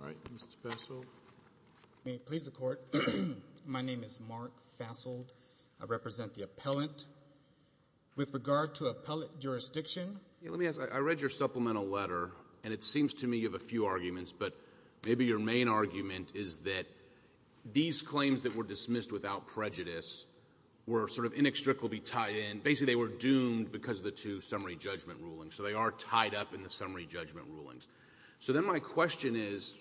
All right, Mr. Fasold. May it please the Court, my name is Mark Fasold. I represent the appellant. With regard to appellate jurisdiction? Let me ask, I read your supplemental letter, and it seems to me you have a few arguments, but maybe your main argument is that these claims that were dismissed without prejudice were sort of inextricably tied in. Basically, they were doomed because of the two summary judgment rulings, so they are tied up in the summary judgment rulings. So then my question is,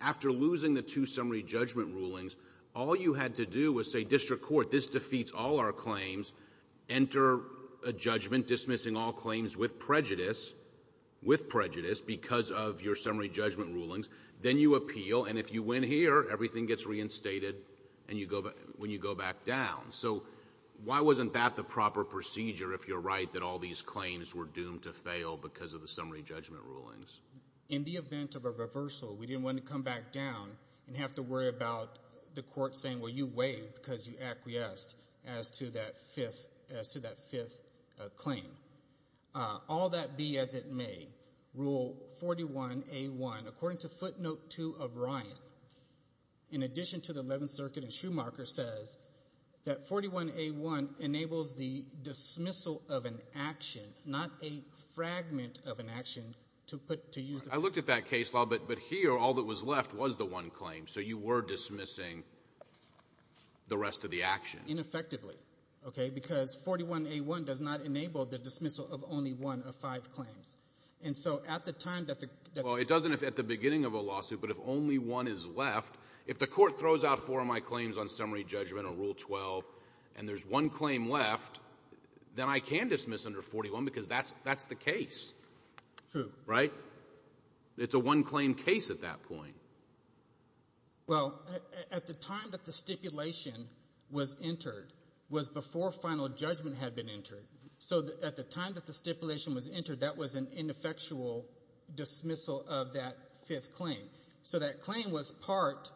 after losing the two summary judgment rulings, all you had to do was say, District Court, this defeats all our claims. Enter a judgment dismissing all claims with prejudice, with prejudice, because of your summary judgment rulings. Then you appeal, and if you win here, everything gets reinstated when you go back down. So why wasn't that the proper procedure, if you're right, that all these claims were doomed to fail because of the summary judgment rulings? In the event of a reversal, we didn't want to come back down and have to worry about the Court saying, well, you waived because you acquiesced as to that fifth claim. All that be as it may, Rule 41A1, according to Footnote 2 of Ryan, in addition to the Eleventh Circuit and Schumacher, says that 41A1 enables the dismissal of an action, not a fragment of an action, to use the… I looked at that case, Lal, but here all that was left was the one claim, so you were dismissing the rest of the action. Because 41A1 does not enable the dismissal of only one of five claims. And so at the time that the… Well, it doesn't at the beginning of a lawsuit, but if only one is left, if the Court throws out four of my claims on summary judgment or Rule 12 and there's one claim left, then I can dismiss under 41 because that's the case. True. Right? It's a one-claim case at that point. Well, at the time that the stipulation was entered was before final judgment had been entered. So at the time that the stipulation was entered, that was an ineffectual dismissal of that fifth claim. So that claim was part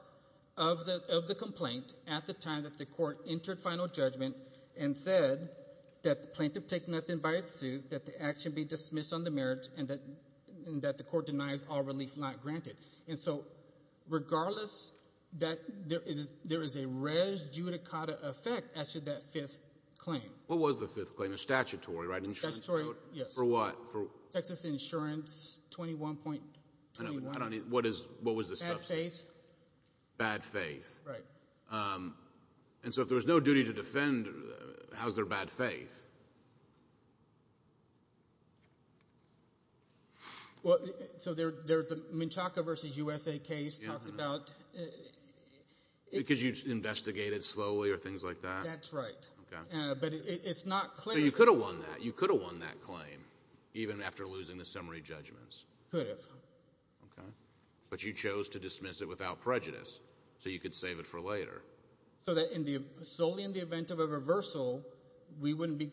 of the complaint at the time that the Court entered final judgment and said that the plaintiff take nothing by its suit, that the action be dismissed on the merits, and that the Court denies all relief not granted. And so regardless, there is a res judicata effect as to that fifth claim. What was the fifth claim? A statutory, right? Statutory, yes. For what? Texas Insurance 21.21. I don't need – what was the substance? Bad faith. Bad faith. Right. And so if there was no duty to defend, how is there bad faith? Well, so there's the Menchaca v. USA case talks about – Because you investigated slowly or things like that? That's right. Okay. But it's not clear – So you could have won that. You could have won that claim even after losing the summary judgments. Could have. Okay. But you chose to dismiss it without prejudice so you could save it for later. So that solely in the event of a reversal, we wouldn't be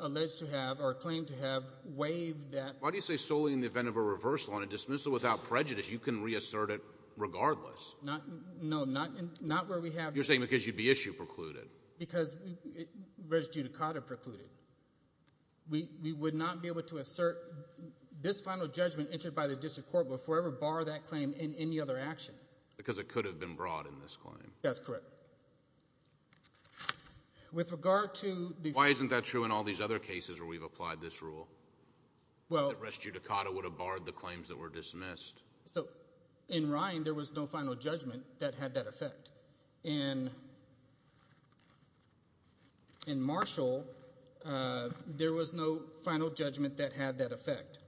alleged to have or claimed to have waived that – Why do you say solely in the event of a reversal? On a dismissal without prejudice, you can reassert it regardless. No, not where we have – You're saying because you'd be issue precluded. Because res judicata precluded. We would not be able to assert this final judgment entered by the district court before we ever bar that claim in any other action. Because it could have been brought in this claim. That's correct. With regard to the – Why isn't that true in all these other cases where we've applied this rule? Well – That res judicata would have barred the claims that were dismissed. So in Ryan, there was no final judgment that had that effect. In Marshall, there was no final judgment that had that effect.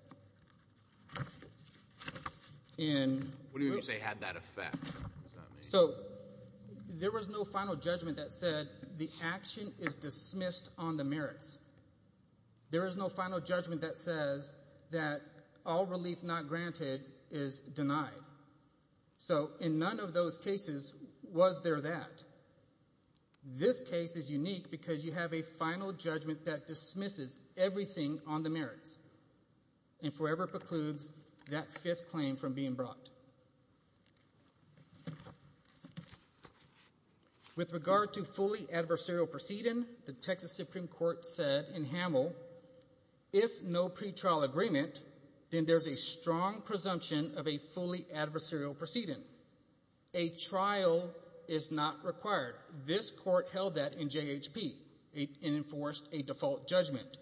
In – What do you mean you say had that effect? So there was no final judgment that said the action is dismissed on the merits. There is no final judgment that says that all relief not granted is denied. So in none of those cases was there that. This case is unique because you have a final judgment that dismisses everything on the merits and forever precludes that fifth claim from being brought. With regard to fully adversarial proceeding, the Texas Supreme Court said in Hamel, if no pretrial agreement, then there's a strong presumption of a fully adversarial proceeding. A trial is not required. This court held that in JHP and enforced a default judgment.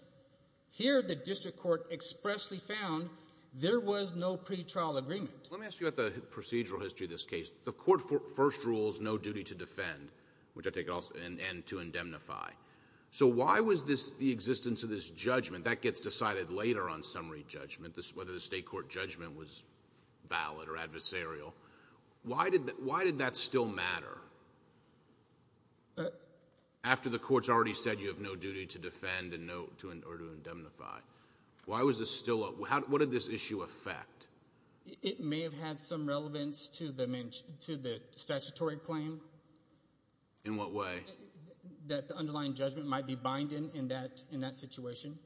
Here the district court expressly found there was no pretrial agreement. Let me ask you about the procedural history of this case. The court first rules no duty to defend, which I take it also – and to indemnify. So why was this – the existence of this judgment – that gets decided later on summary judgment, whether the state court judgment was valid or adversarial. Why did that still matter? After the court's already said you have no duty to defend or to indemnify, why was this still – what did this issue affect? It may have had some relevance to the statutory claim. In what way? That the underlying judgment might be binding in that situation.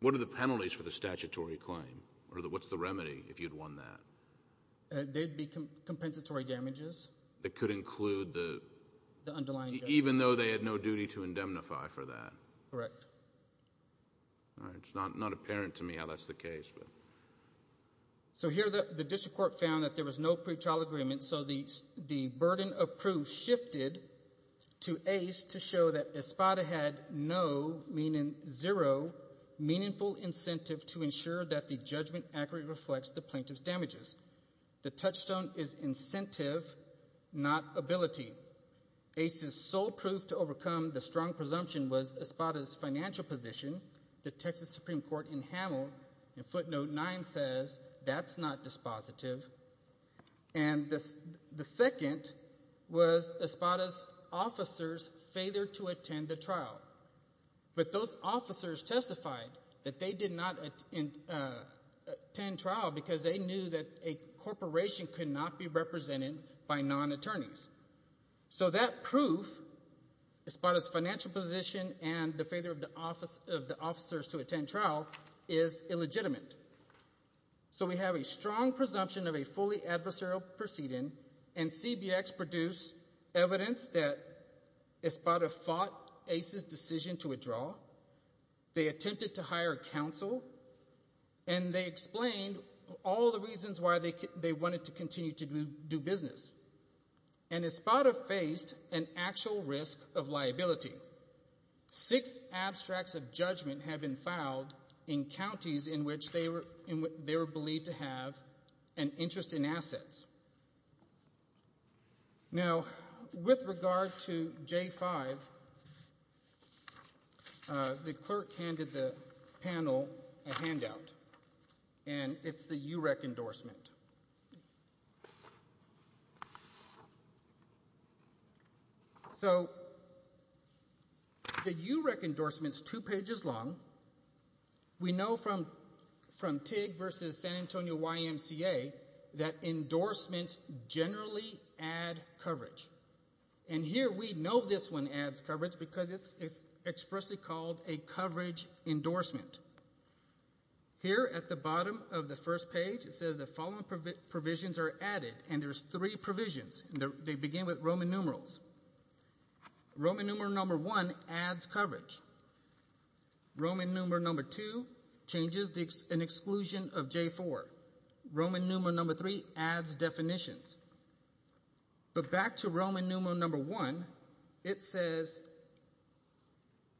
What are the penalties for the statutory claim, or what's the remedy if you'd won that? They'd be compensatory damages. That could include the underlying judgment. Even though they had no duty to indemnify for that. Correct. It's not apparent to me how that's the case. So here the district court found that there was no pretrial agreement, so the burden of proof shifted to Ace to show that Espada had no, meaning zero, meaningful incentive to ensure that the judgment accurately reflects the plaintiff's damages. The touchstone is incentive, not ability. Ace's sole proof to overcome the strong presumption was Espada's financial position. The Texas Supreme Court in Hamel in footnote 9 says that's not dispositive. And the second was Espada's officers' failure to attend the trial. But those officers testified that they did not attend trial because they knew that a corporation could not be represented by non-attorneys. So that proof, Espada's financial position and the failure of the officers to attend trial, is illegitimate. So we have a strong presumption of a fully adversarial proceeding, and CBX produced evidence that Espada fought Ace's decision to withdraw, they attempted to hire counsel, and they explained all the reasons why they wanted to continue to do business. And Espada faced an actual risk of liability. Six abstracts of judgment had been filed in counties in which they were believed to have an interest in assets. Now, with regard to J-5, the clerk handed the panel a handout, and it's the UREC endorsement. So the UREC endorsement is two pages long. We know from TIG versus San Antonio YMCA that endorsements generally add coverage. And here we know this one adds coverage because it's expressly called a coverage endorsement. Here at the bottom of the first page, it says the following provisions are added, and there's three provisions, and they begin with Roman numerals. Roman numeral number one adds coverage. Roman numeral number two changes an exclusion of J-4. Roman numeral number three adds definitions. But back to Roman numeral number one, it says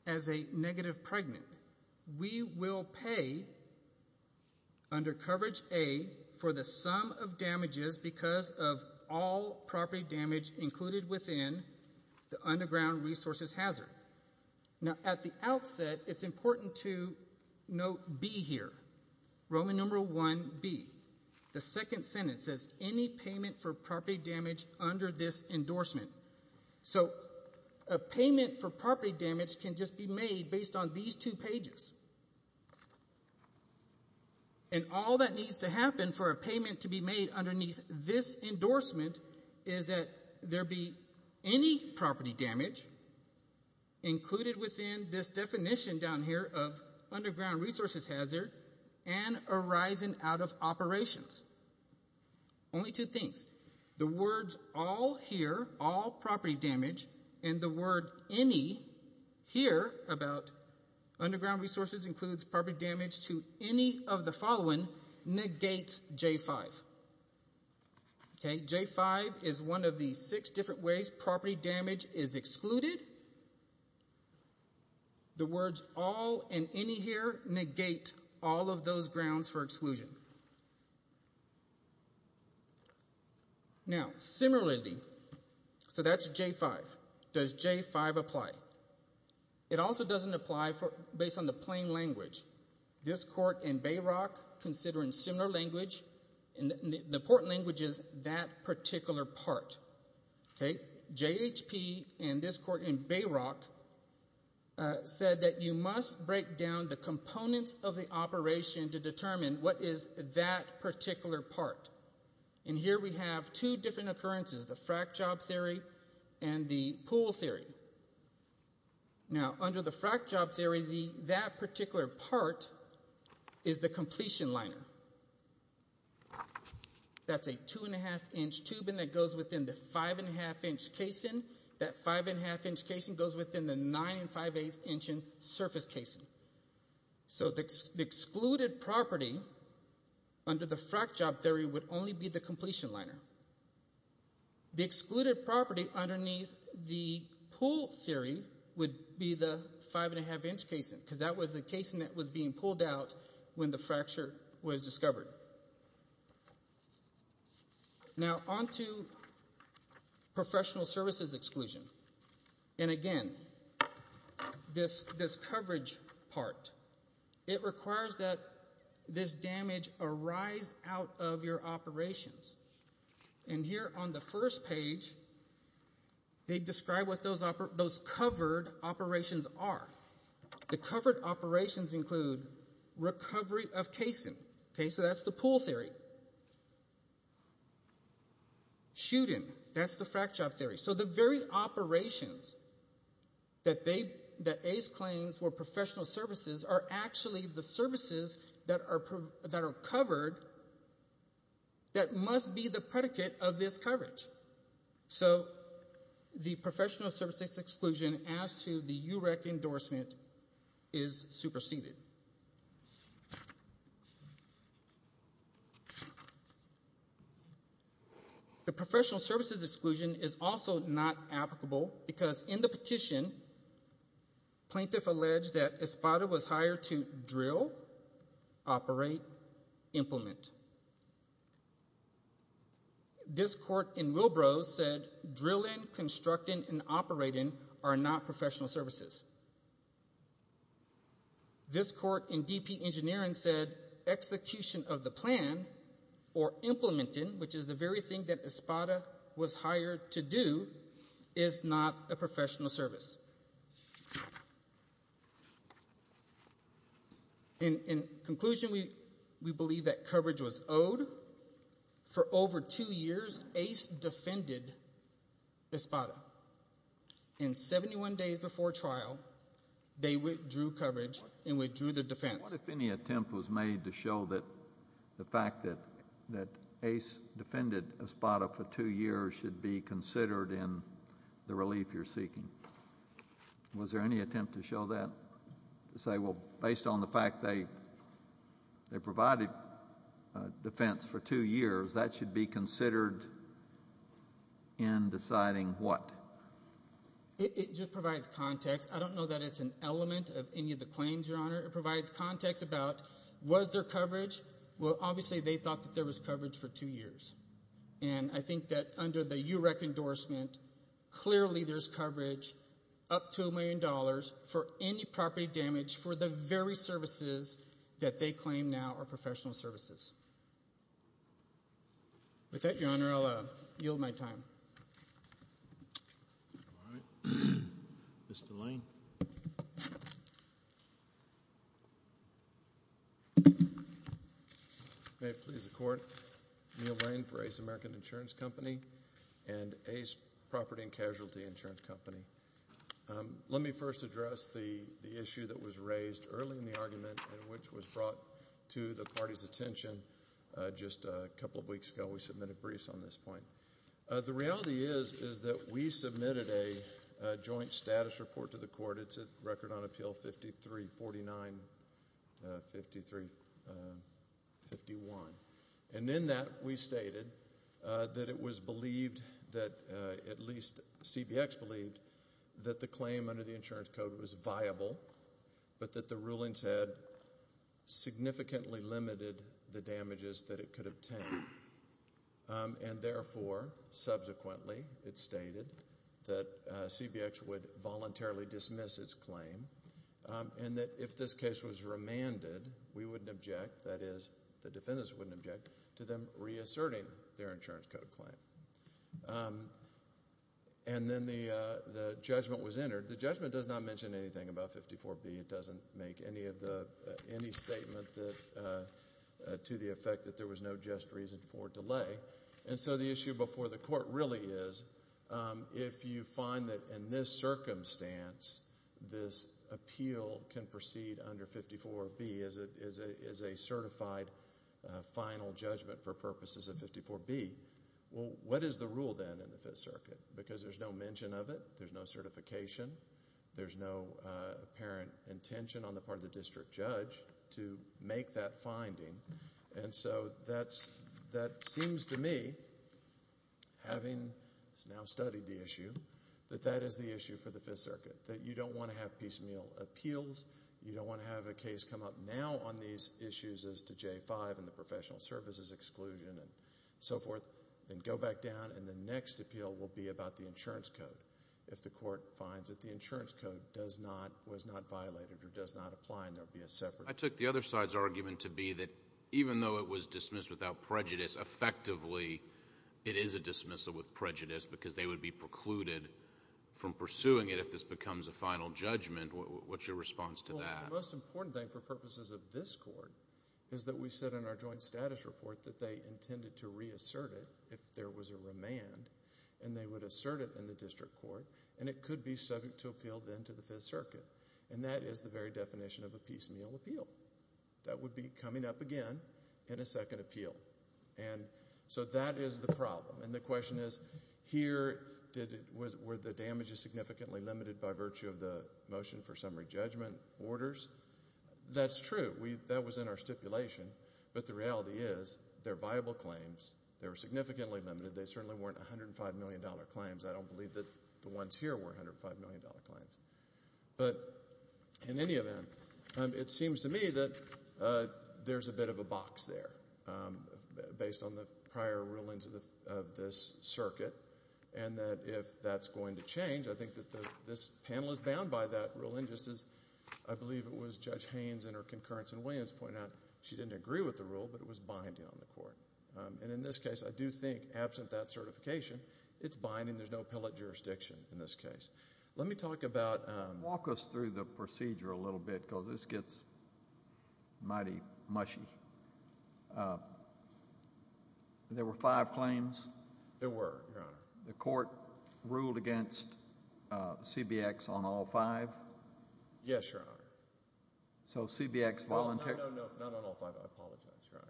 as a negative pregnant, we will pay under coverage A for the sum of damages because of all property damage included within the underground resources hazard. Now, at the outset, it's important to note B here, Roman numeral one B. The second sentence says any payment for property damage under this endorsement. So a payment for property damage can just be made based on these two pages. And all that needs to happen for a payment to be made underneath this endorsement is that there be any property damage included within this definition down here of underground resources hazard and arising out of operations. Only two things. The words all here, all property damage, and the word any here about underground resources includes property damage to any of the following negates J-5. Okay, J-5 is one of the six different ways property damage is excluded. The words all and any here negate all of those grounds for exclusion. Now, similarly, so that's J-5. Does J-5 apply? It also doesn't apply based on the plain language. This court in Bayrock, considering similar language, and the important language is that particular part. Okay, J-H-P and this court in Bayrock said that you must break down the components of the operation to determine what is that particular part. And here we have two different occurrences, the frac job theory and the pool theory. Now, under the frac job theory, that particular part is the completion liner. That's a 2-1⁄2-inch tubing that goes within the 5-1⁄2-inch casing. That 5-1⁄2-inch casing goes within the 9-5⁄8-inch surface casing. So the excluded property under the frac job theory would only be the completion liner. The excluded property underneath the pool theory would be the 5-1⁄2-inch casing because that was the casing that was being pulled out when the fracture was discovered. Now, on to professional services exclusion. And again, this coverage part, it requires that this damage arise out of your operations. And here on the first page, they describe what those covered operations are. The covered operations include recovery of casing. Okay, so that's the pool theory. Shooting, that's the frac job theory. So the very operations that Ace claims were professional services are actually the services that are covered that must be the predicate of this coverage. So the professional services exclusion as to the UREC endorsement is superseded. The professional services exclusion is also not applicable because in the petition, plaintiff alleged that Espada was hired to drill, operate, implement. This court in Wilbro said drilling, constructing, and operating are not professional services. This court in DP Engineering said execution of the plan or implementing, which is the very thing that Espada was hired to do, is not a professional service. In conclusion, we believe that coverage was owed. For over two years, Ace defended Espada. And 71 days before trial, they withdrew coverage and withdrew the defense. What if any attempt was made to show that the fact that Ace defended Espada for two years was there any attempt to show that? To say, well, based on the fact they provided defense for two years, that should be considered in deciding what? It just provides context. I don't know that it's an element of any of the claims, Your Honor. It provides context about was there coverage? Well, obviously they thought that there was coverage for two years. And I think that under the UREC endorsement, clearly there's coverage up to $1 million for any property damage for the very services that they claim now are professional services. With that, Your Honor, I'll yield my time. Mr. Lane. Thank you, Your Honor. May it please the Court, Neil Lane for Ace American Insurance Company and Ace Property and Casualty Insurance Company. Let me first address the issue that was raised early in the argument and which was brought to the party's attention just a couple of weeks ago. We submitted briefs on this point. The reality is that we submitted a joint status report to the court. It's a record on appeal 5349-5351. And in that we stated that it was believed that at least CBX believed that the claim under the insurance code was viable, but that the rulings had significantly limited the damages that it could obtain. And therefore, subsequently, it stated that CBX would voluntarily dismiss its claim and that if this case was remanded, we wouldn't object, that is the defendants wouldn't object, to them reasserting their insurance code claim. And then the judgment was entered. The judgment does not mention anything about 54B. It doesn't make any statement to the effect that there was no just reason for delay. And so the issue before the court really is, if you find that in this circumstance this appeal can proceed under 54B as a certified final judgment for purposes of 54B, well, what is the rule then in the Fifth Circuit? Because there's no mention of it. There's no certification. There's no apparent intention on the part of the district judge to make that finding. And so that seems to me, having now studied the issue, that that is the issue for the Fifth Circuit, that you don't want to have piecemeal appeals. You don't want to have a case come up now on these issues as to J-5 and the professional services exclusion and so forth, then go back down and the next appeal will be about the insurance code if the court finds that the insurance code was not violated or does not apply and there will be a separation. I took the other side's argument to be that even though it was dismissed without prejudice, effectively it is a dismissal with prejudice because they would be precluded from pursuing it if this becomes a final judgment. What's your response to that? Well, the most important thing for purposes of this court is that we said in our joint status report that they intended to reassert it if there was a remand and they would assert it in the district court and it could be subject to appeal then to the Fifth Circuit. And that is the very definition of a piecemeal appeal. That would be coming up again in a second appeal. So that is the problem. And the question is, here were the damages significantly limited by virtue of the motion for summary judgment orders? That's true. That was in our stipulation. But the reality is there are viable claims. They were significantly limited. They certainly weren't $105 million claims. I don't believe that the ones here were $105 million claims. But in any event, it seems to me that there's a bit of a box there based on the prior rulings of this circuit and that if that's going to change, I think that this panel is bound by that ruling just as I believe it was Judge Haynes in her concurrence in Williams pointed out. And in this case, I do think absent that certification, it's binding. There's no pellet jurisdiction in this case. Let me talk about— Walk us through the procedure a little bit because this gets mighty mushy. There were five claims? There were, Your Honor. The court ruled against CBX on all five? Yes, Your Honor. So CBX voluntarily— No, no, no, not on all five. I apologize, Your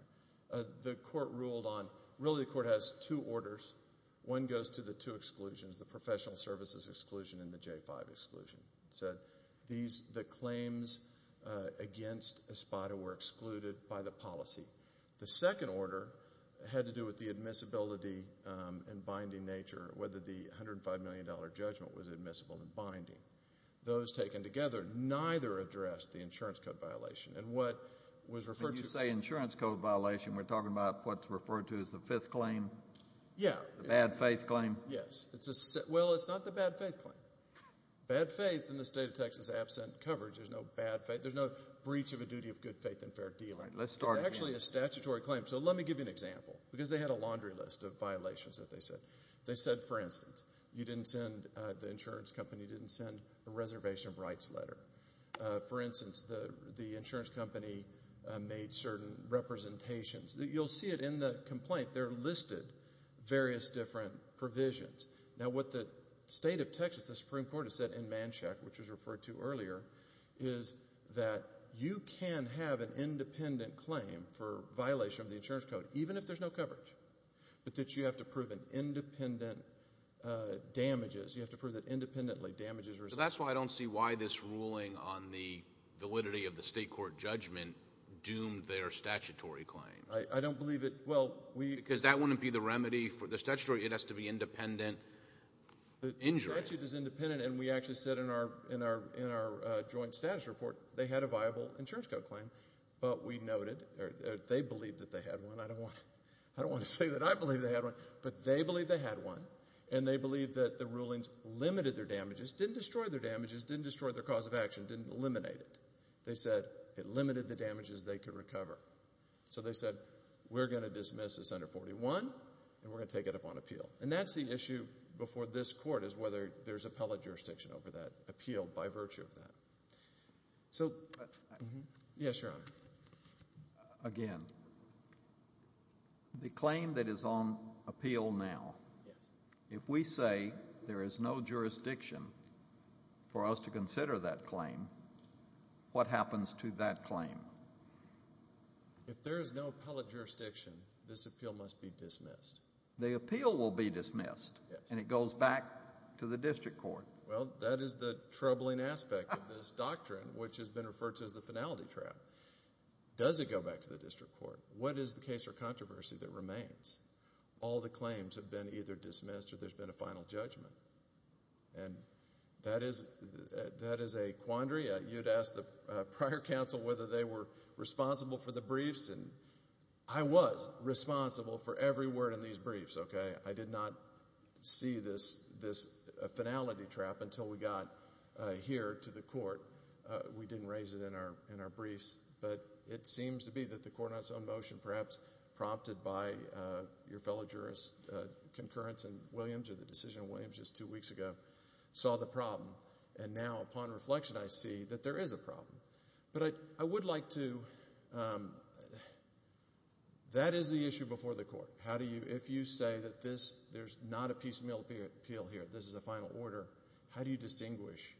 Honor. The court ruled on—really the court has two orders. One goes to the two exclusions, the professional services exclusion and the J-5 exclusion. It said the claims against Espada were excluded by the policy. The second order had to do with the admissibility and binding nature, whether the $105 million judgment was admissible and binding. Those taken together neither addressed the insurance code violation. And what was referred to— When you say insurance code violation, we're talking about what's referred to as the fifth claim? Yeah. The bad faith claim? Yes. Well, it's not the bad faith claim. Bad faith in the state of Texas, absent coverage, there's no bad faith. There's no breach of a duty of good faith and fair dealing. Let's start again. It's actually a statutory claim. So let me give you an example because they had a laundry list of violations that they said. They said, for instance, the insurance company didn't send a reservation of rights letter. For instance, the insurance company made certain representations. You'll see it in the complaint. They're listed, various different provisions. Now, what the state of Texas, the Supreme Court, has said in Manchac, which was referred to earlier, is that you can have an independent claim for violation of the insurance code, even if there's no coverage, but that you have to prove an independent damages. You have to prove that independently damages result. Because that's why I don't see why this ruling on the validity of the state court judgment doomed their statutory claim. I don't believe it. Because that wouldn't be the remedy for the statutory. It has to be independent injury. The statute is independent, and we actually said in our joint status report they had a viable insurance code claim. But we noted they believed that they had one. I don't want to say that I believe they had one, but they believed they had one, and they believed that the rulings limited their damages, didn't destroy their damages, didn't destroy their cause of action, didn't eliminate it. They said it limited the damages they could recover. So they said we're going to dismiss this under 41, and we're going to take it up on appeal. And that's the issue before this court is whether there's appellate jurisdiction over that appeal by virtue of that. So, yes, Your Honor. Again, the claim that is on appeal now, if we say there is no jurisdiction for us to consider that claim, what happens to that claim? If there is no appellate jurisdiction, this appeal must be dismissed. The appeal will be dismissed, and it goes back to the district court. Well, that is the troubling aspect of this doctrine, which has been referred to as the finality trap. Does it go back to the district court? What is the case or controversy that remains? All the claims have been either dismissed or there's been a final judgment. And that is a quandary. You'd ask the prior counsel whether they were responsible for the briefs, and I was responsible for every word in these briefs, okay? I did not see this finality trap until we got here to the court. We didn't raise it in our briefs. But it seems to be that the court on its own motion, perhaps prompted by your fellow jurist concurrence in Williams or the decision in Williams just two weeks ago, saw the problem. And now, upon reflection, I see that there is a problem. But I would like to – that is the issue before the court. If you say that there's not a piecemeal appeal here, this is a final order, how do you distinguish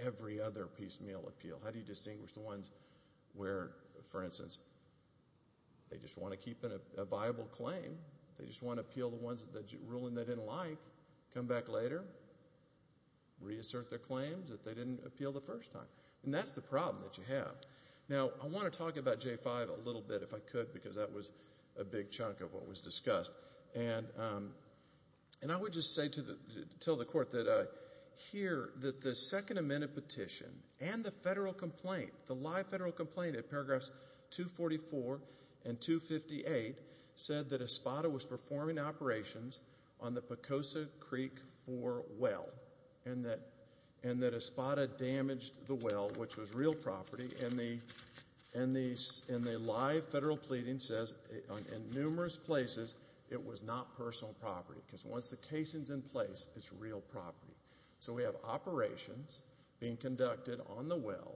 every other piecemeal appeal? How do you distinguish the ones where, for instance, they just want to keep a viable claim, they just want to appeal the ruling they didn't like, come back later, reassert their claims that they didn't appeal the first time? And that's the problem that you have. Now, I want to talk about J-5 a little bit, if I could, because that was a big chunk of what was discussed. And I would just say to the court that I hear that the Second Amendment petition and the federal complaint, the live federal complaint at paragraphs 244 and 258, said that ESPADA was performing operations on the Pocosa Creek 4 well and that ESPADA damaged the well, which was real property. And the live federal pleading says in numerous places it was not personal property because once the casing is in place, it's real property. So we have operations being conducted on the well,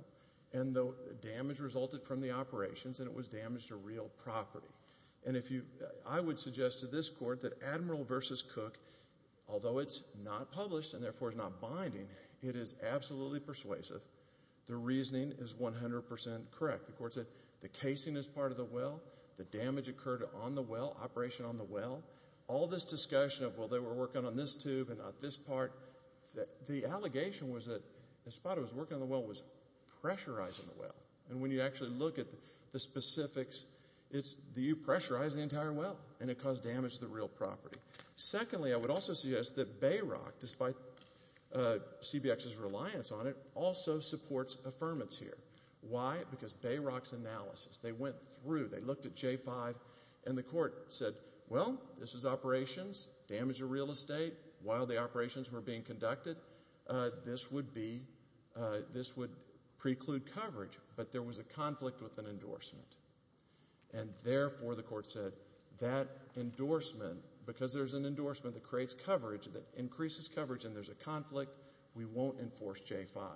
and the damage resulted from the operations and it was damage to real property. And I would suggest to this court that Admiral v. Cook, although it's not published and therefore it's not binding, it is absolutely persuasive. The reasoning is 100% correct. The court said the casing is part of the well, the damage occurred on the well, operation on the well. All this discussion of, well, they were working on this tube and not this part, the allegation was that ESPADA was working on the well, was pressurizing the well. And when you actually look at the specifics, you pressurize the entire well and it caused damage to the real property. Secondly, I would also suggest that Bayrock, despite CBX's reliance on it, also supports affirmance here. Why? Because Bayrock's analysis, they went through, they looked at J-5 and the court said, well, this is operations, damage to real estate, while the operations were being conducted, this would preclude coverage. But there was a conflict with an endorsement. And therefore the court said that endorsement, because there's an endorsement that creates coverage, that increases coverage, and there's a conflict, we won't enforce J-5.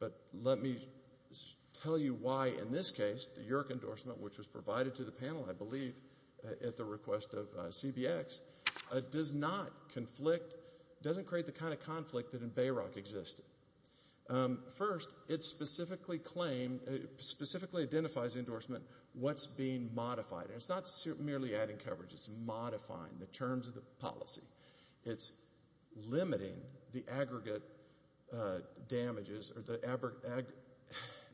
But let me tell you why in this case the Yerke endorsement, which was provided to the panel, I believe, at the request of CBX, does not conflict, doesn't create the kind of conflict that in Bayrock existed. First, it specifically identifies the endorsement, what's being modified. It's not merely adding coverage, it's modifying the terms of the policy. It's limiting the aggregate damages or the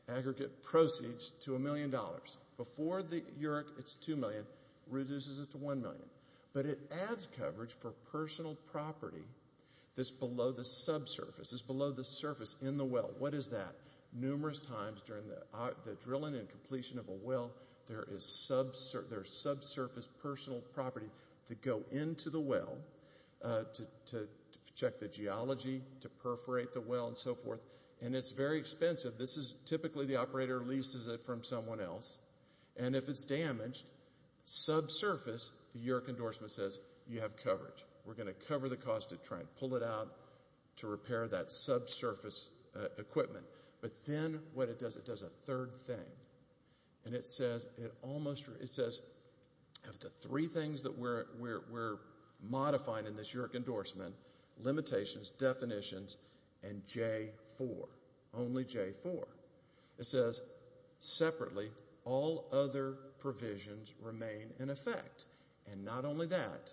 aggregate proceeds to a million dollars. Before the Yerke, it's two million, reduces it to one million. But it adds coverage for personal property that's below the subsurface, this is below the surface in the well. What is that? Numerous times during the drilling and completion of a well, there is subsurface personal property that go into the well to check the geology, to perforate the well, and so forth. And it's very expensive. This is typically the operator leases it from someone else. And if it's damaged, subsurface, the Yerke endorsement says, you have coverage. We're going to cover the cost of trying to pull it out to repair that subsurface equipment. But then what it does, it does a third thing. And it says, of the three things that we're modifying in this Yerke endorsement, limitations, definitions, and J4, only J4. It says, separately, all other provisions remain in effect. And not only that,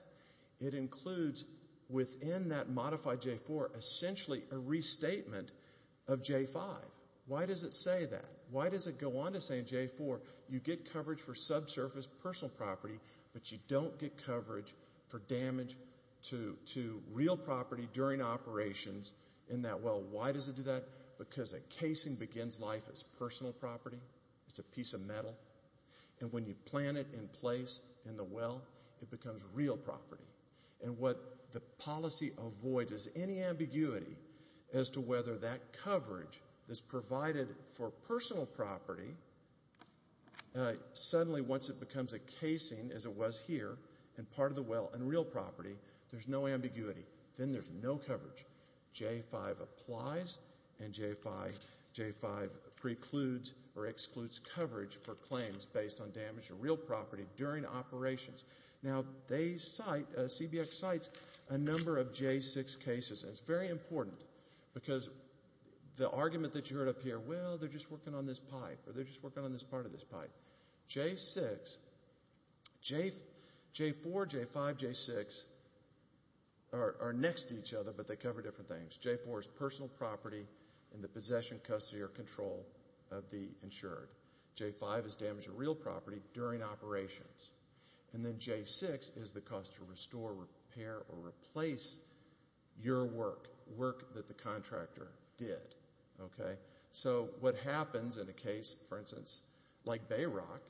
it includes within that modified J4 essentially a restatement of J5. Why does it say that? Why does it go on to say in J4, you get coverage for subsurface personal property, but you don't get coverage for damage to real property during operations in that well? Why does it do that? Because a casing begins life as personal property. It's a piece of metal. And when you plant it in place in the well, it becomes real property. And what the policy avoids is any ambiguity as to whether that coverage that's provided for personal property, suddenly once it becomes a casing as it was here and part of the well and real property, there's no ambiguity. Then there's no coverage. J5 applies, and J5 precludes or excludes coverage for claims based on damage to real property during operations. Now, they cite, CBX cites a number of J6 cases, and it's very important, because the argument that you heard up here, well, they're just working on this pipe, or they're just working on this part of this pipe. J6, J4, J5, J6 are next to each other, but they cover different things. J4 is personal property in the possession, custody, or control of the insured. J5 is damage to real property during operations. And then J6 is the cost to restore, repair, or replace your work, work that the contractor did. So what happens in a case, for instance, like Bayrock,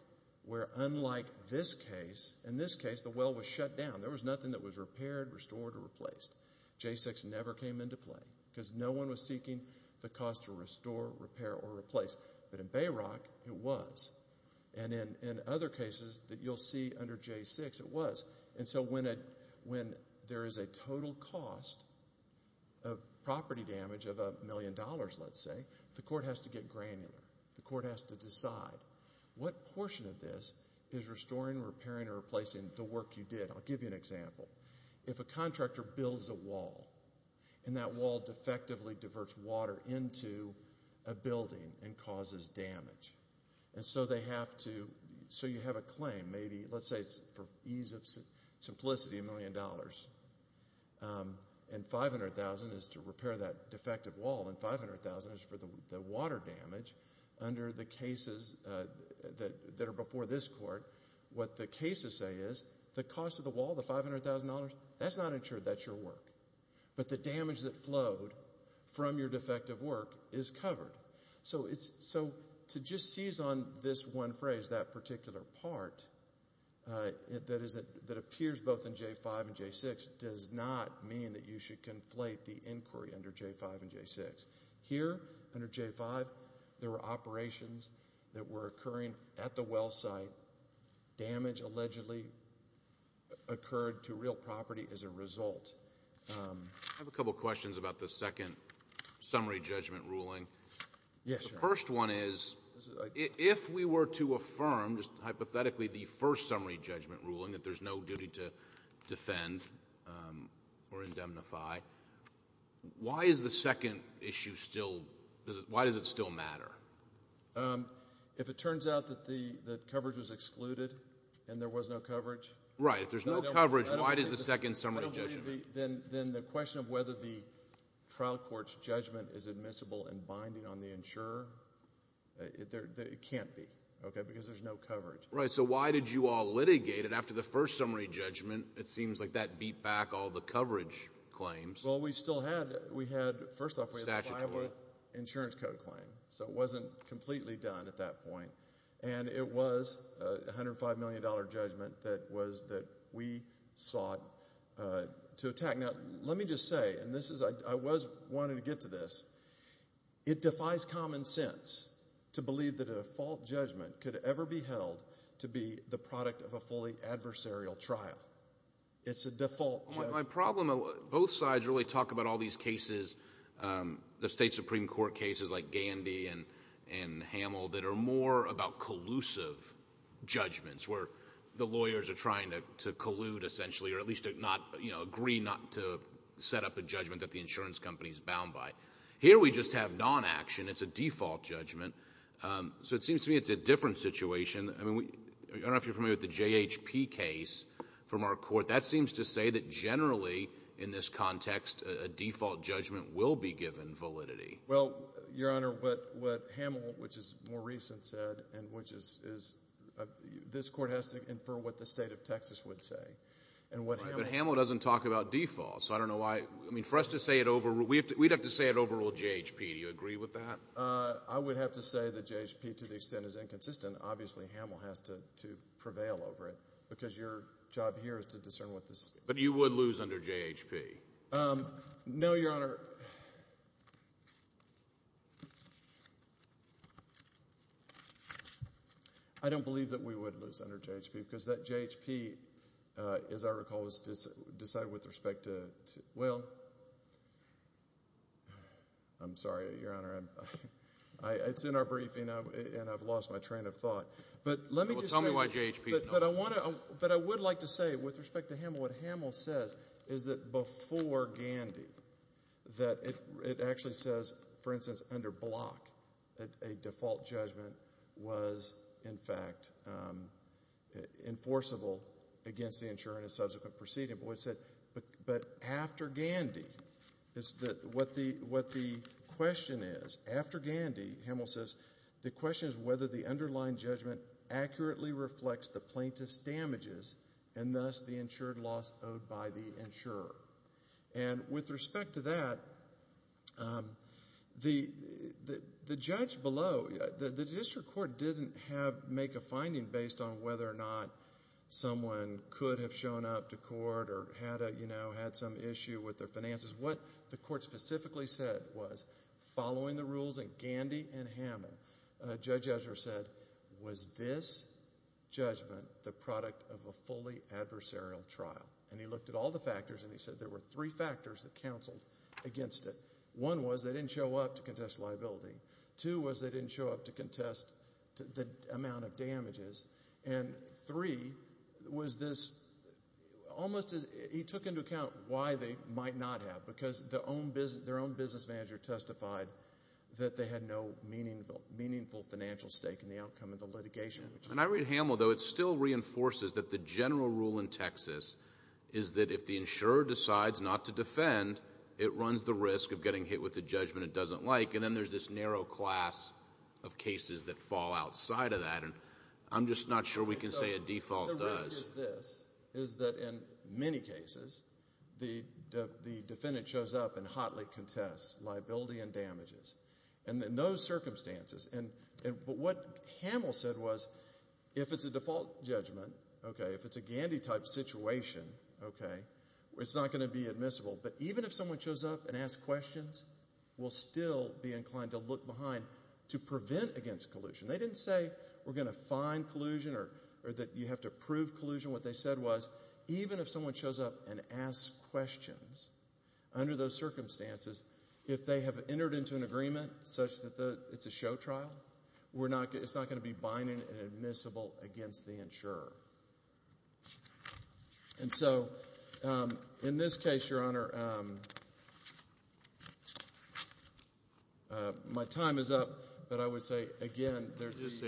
where unlike this case, in this case the well was shut down. There was nothing that was repaired, restored, or replaced. J6 never came into play, because no one was seeking the cost to restore, repair, or replace. But in Bayrock, it was. And in other cases that you'll see under J6, it was. And so when there is a total cost of property damage of a million dollars, let's say, the court has to get granular. The court has to decide what portion of this is restoring, repairing, or replacing the work you did. I'll give you an example. If a contractor builds a wall, and that wall defectively diverts water into a building and causes damage, and so you have a claim. Maybe, let's say, for ease of simplicity, a million dollars. And $500,000 is to repair that defective wall, and $500,000 is for the water damage. Under the cases that are before this court, what the cases say is, the cost of the wall, the $500,000, that's not insured, that's your work. But the damage that flowed from your defective work is covered. So to just seize on this one phrase, that particular part, that appears both in J5 and J6, does not mean that you should conflate the inquiry under J5 and J6. Here, under J5, there were operations that were occurring at the well site. Damage allegedly occurred to real property as a result. I have a couple questions about the second summary judgment ruling. The first one is, if we were to affirm, just hypothetically, the first summary judgment ruling, that there's no duty to defend or indemnify, why does the second issue still matter? If it turns out that coverage was excluded and there was no coverage? Right. If there's no coverage, why does the second summary judgment? Then the question of whether the trial court's judgment is admissible and binding on the insurer, it can't be, because there's no coverage. Right. So why did you all litigate it after the first summary judgment? It seems like that beat back all the coverage claims. Well, we still had, first off, we had the Iowa Insurance Code claim, so it wasn't completely done at that point. And it was a $105 million judgment that we sought to attack. Now, let me just say, and I was wanting to get to this, it defies common sense to believe that a default judgment could ever be held to be the product of a fully adversarial trial. It's a default judgment. My problem, both sides really talk about all these cases, the State Supreme Court cases like Gandy and Hamill that are more about collusive judgments where the lawyers are trying to collude, essentially, or at least agree not to set up a judgment that the insurance company is bound by. Here we just have non-action. It's a default judgment. So it seems to me it's a different situation. I don't know if you're familiar with the JHP case from our court. That seems to say that generally in this context a default judgment will be given validity. Well, Your Honor, what Hamill, which is more recent, said, and which is this court has to infer what the state of Texas would say. But Hamill doesn't talk about default, so I don't know why. I mean, for us to say it overrule, we'd have to say it overrule JHP. Do you agree with that? I would have to say that JHP to the extent is inconsistent, obviously Hamill has to prevail over it because your job here is to discern what the state of Texas says. But you would lose under JHP. No, Your Honor. I don't believe that we would lose under JHP because that JHP, as I recall, was decided with respect to— well, I'm sorry, Your Honor. It's in our briefing, and I've lost my train of thought. Well, tell me why JHP. But I would like to say with respect to Hamill, what Hamill says is that before Gandy, that it actually says, for instance, under Block, that a default judgment was, in fact, enforceable against the insurer in a subsequent proceeding. But after Gandy, what the question is, after Gandy, Hamill says, the question is whether the underlying judgment accurately reflects the plaintiff's damages and thus the insured loss owed by the insurer. And with respect to that, the judge below, the district court didn't make a finding based on whether or not someone could have shown up to court or had some issue with their finances. Because what the court specifically said was, following the rules in Gandy and Hamill, Judge Ezra said, was this judgment the product of a fully adversarial trial? And he looked at all the factors, and he said there were three factors that counseled against it. One was they didn't show up to contest liability. Two was they didn't show up to contest the amount of damages. And three was this almost— why they might not have. Because their own business manager testified that they had no meaningful financial stake in the outcome of the litigation. And I read Hamill, though, it still reinforces that the general rule in Texas is that if the insurer decides not to defend, it runs the risk of getting hit with a judgment it doesn't like. And then there's this narrow class of cases that fall outside of that. And I'm just not sure we can say a default does. But the risk is this, is that in many cases the defendant shows up and hotly contests liability and damages. And in those circumstances— but what Hamill said was if it's a default judgment, okay, if it's a Gandy-type situation, okay, it's not going to be admissible. But even if someone shows up and asks questions, we'll still be inclined to look behind to prevent against collusion. They didn't say we're going to find collusion or that you have to prove collusion. What they said was even if someone shows up and asks questions, under those circumstances, if they have entered into an agreement such that it's a show trial, it's not going to be binding and admissible against the insurer. And so, in this case, Your Honor, my time is up, but I would say, again, they're just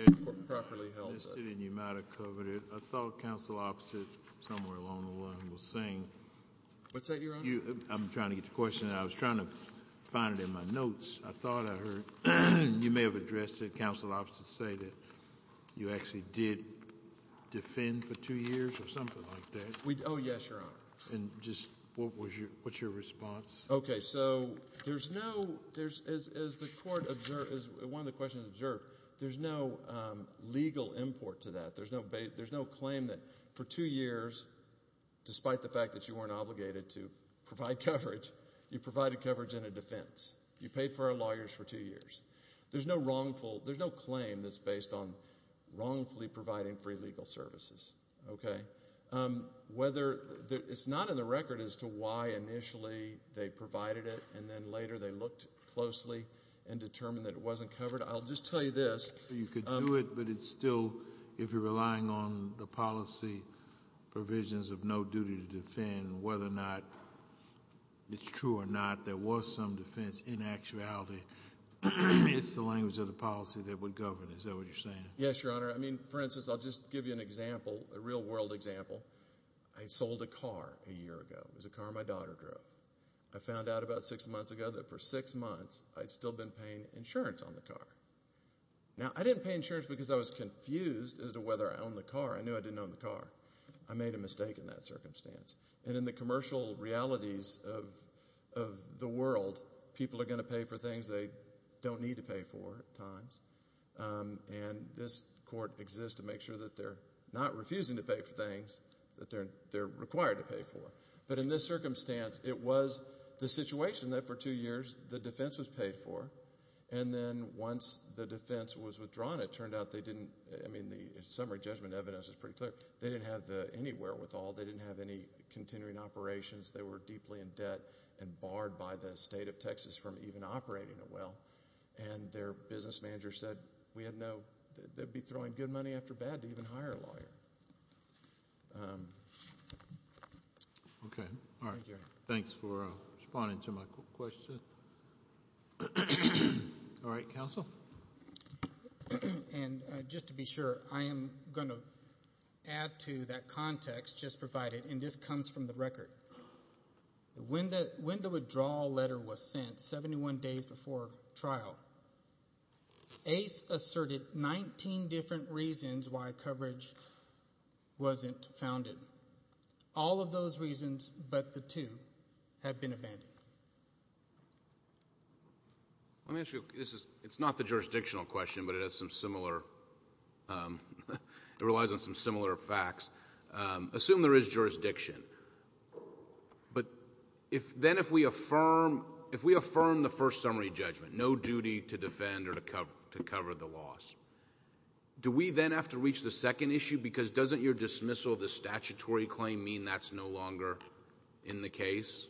properly held up. I missed it and you might have covered it. I thought Counsel Opposite somewhere along the line was saying— What's that, Your Honor? I'm trying to get to the question. I was trying to find it in my notes. I thought I heard—you may have addressed it, Counsel Opposite, say that you actually did defend for two years or something like that. Oh, yes, Your Honor. And just what was your—what's your response? Okay, so there's no—as the Court observed, as one of the questions observed, there's no legal import to that. There's no claim that for two years, despite the fact that you weren't obligated to provide coverage, you provided coverage in a defense. You paid for our lawyers for two years. There's no wrongful—there's no claim that's based on wrongfully providing free legal services. Whether—it's not in the record as to why initially they provided it and then later they looked closely and determined that it wasn't covered. I'll just tell you this. You could do it, but it's still—if you're relying on the policy provisions of no duty to defend, whether or not it's true or not, there was some defense in actuality. It's the language of the policy that would govern it. Is that what you're saying? Yes, Your Honor. I mean, for instance, I'll just give you an example, a real-world example. I sold a car a year ago. It was a car my daughter drove. I found out about six months ago that for six months I'd still been paying insurance on the car. Now, I didn't pay insurance because I was confused as to whether I owned the car. I knew I didn't own the car. I made a mistake in that circumstance. And in the commercial realities of the world, people are going to pay for things they don't need to pay for at times, and this court exists to make sure that they're not refusing to pay for things that they're required to pay for. But in this circumstance, it was the situation that for two years the defense was paid for, and then once the defense was withdrawn, it turned out they didn't – I mean, the summary judgment evidence is pretty clear. They didn't have the anywhere with all. They didn't have any continuing operations. They were deeply in debt and barred by the state of Texas from even operating it well. And their business manager said we had no – they'd be throwing good money after bad to even hire a lawyer. Okay. All right. Thanks for responding to my question. All right, counsel. And just to be sure, I am going to add to that context just provided, and this comes from the record. When the withdrawal letter was sent, 71 days before trial, ACE asserted 19 different reasons why coverage wasn't founded. All of those reasons but the two have been abandoned. Let me ask you – it's not the jurisdictional question, but it has some similar – it relies on some similar facts. Assume there is jurisdiction. But then if we affirm the first summary judgment, no duty to defend or to cover the loss, do we then have to reach the second issue? Because doesn't your dismissal of the statutory claim mean that's no longer in the case?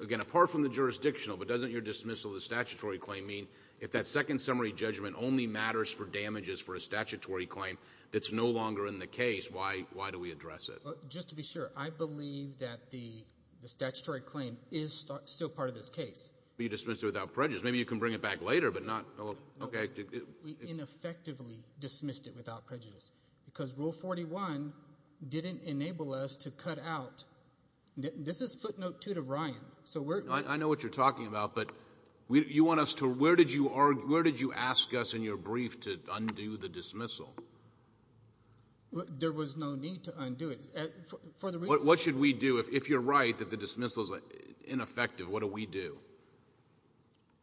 Again, apart from the jurisdictional, but doesn't your dismissal of the statutory claim mean if that second summary judgment only matters for damages for a statutory claim that's no longer in the case, why do we address it? Just to be sure, I believe that the statutory claim is still part of this case. But you dismissed it without prejudice. Maybe you can bring it back later, but not – okay. We ineffectively dismissed it without prejudice because Rule 41 didn't enable us to cut out – this is footnote two to Ryan, so we're – I know what you're talking about, but you want us to – where did you ask us in your brief to undo the dismissal? There was no need to undo it. What should we do if you're right that the dismissal is ineffective? What do we do?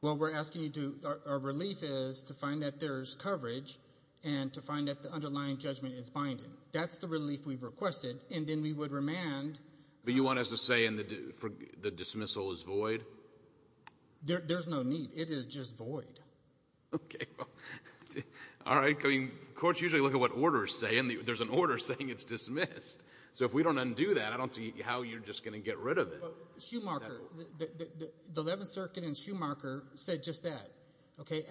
Well, we're asking you to – our relief is to find that there's coverage and to find that the underlying judgment is binding. That's the relief we've requested, and then we would remand. But you want us to say the dismissal is void? There's no need. It is just void. Okay. All right. Courts usually look at what orders say, and there's an order saying it's dismissed. So if we don't undo that, I don't see how you're just going to get rid of it. But Schumacher, the Eleventh Circuit in Schumacher said just that.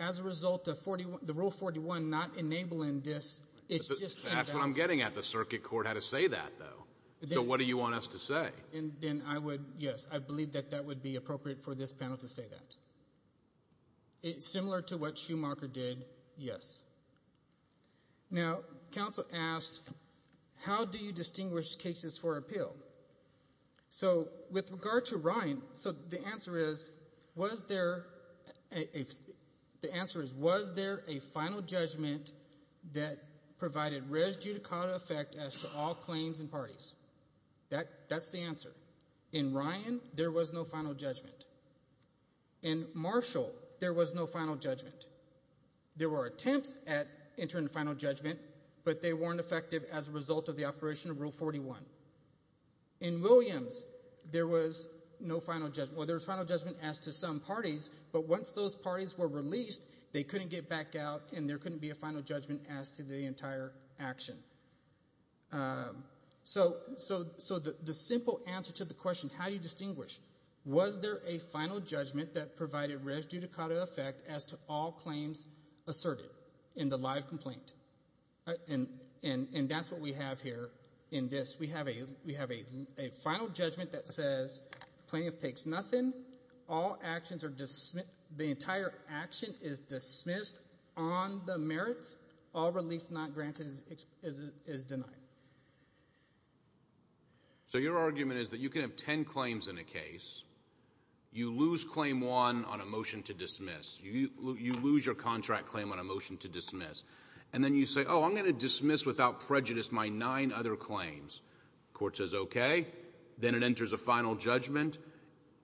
As a result, the Rule 41 not enabling this, it's just – That's what I'm getting at. The circuit court had to say that, though. So what do you want us to say? Then I would – yes, I believe that that would be appropriate for this panel to say that. Similar to what Schumacher did, yes. Now, counsel asked, how do you distinguish cases for appeal? So with regard to Ryan, the answer is, was there a final judgment that provided res judicata effect as to all claims and parties? That's the answer. In Ryan, there was no final judgment. In Marshall, there was no final judgment. There were attempts at entering the final judgment, but they weren't effective as a result of the operation of Rule 41. In Williams, there was no final judgment. Well, there was final judgment as to some parties, but once those parties were released, they couldn't get back out and there couldn't be a final judgment as to the entire action. So the simple answer to the question, how do you distinguish? Was there a final judgment that provided res judicata effect as to all claims asserted in the live complaint? And that's what we have here in this. We have a final judgment that says plaintiff takes nothing. All actions are dismissed. The entire action is dismissed on the merits. All relief not granted is denied. So your argument is that you can have ten claims in a case. You lose claim one on a motion to dismiss. You lose your contract claim on a motion to dismiss. And then you say, oh, I'm going to dismiss without prejudice my nine other claims. Court says okay. Then it enters a final judgment.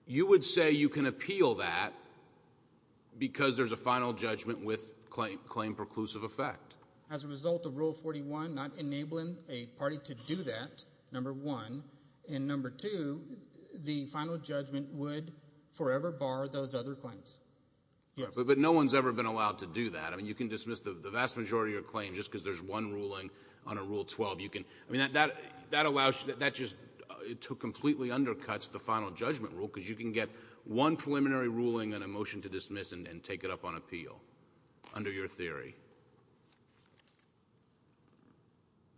You would say you can appeal that because there's a final judgment with claim preclusive effect. As a result of Rule 41 not enabling a party to do that, number one, and number two, the final judgment would forever bar those other claims. Yes. But no one's ever been allowed to do that. I mean, you can dismiss the vast majority of your claims just because there's one ruling on a Rule 12. I mean, that just completely undercuts the final judgment rule because you can get one preliminary ruling on a motion to dismiss and take it up on appeal under your theory.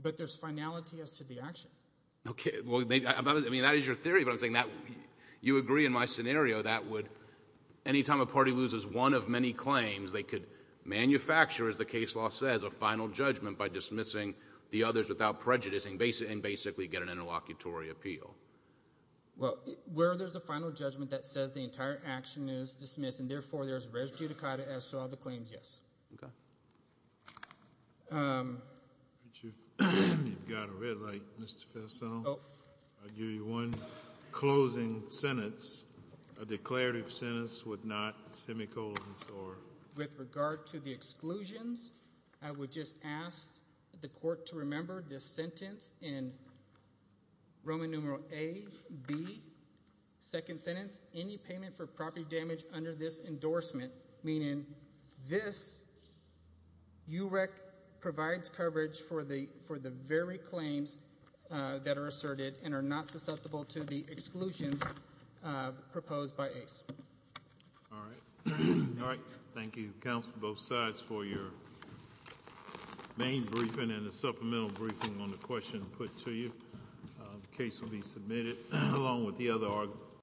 But there's finality as to the action. Okay. I mean, that is your theory, but I'm saying you agree in my scenario that would, any time a party loses one of many claims, they could manufacture, as the case law says, a final judgment by dismissing the others without prejudice and basically get an interlocutory appeal. Well, where there's a final judgment that says the entire action is dismissed and therefore there's res judicata as to all the claims, yes. Okay. You've got a red light, Mr. Faisal. I'll give you one closing sentence, a declarative sentence with not semicolons or— I would just ask the court to remember this sentence in Roman numeral A, B, second sentence, any payment for property damage under this endorsement, meaning this UREC provides coverage for the very claims that are asserted and are not susceptible to the exclusions proposed by ACE. All right. All right. Thank you, counsel, both sides for your main briefing and the supplemental briefing on the question put to you. The case will be submitted along with the other arguments.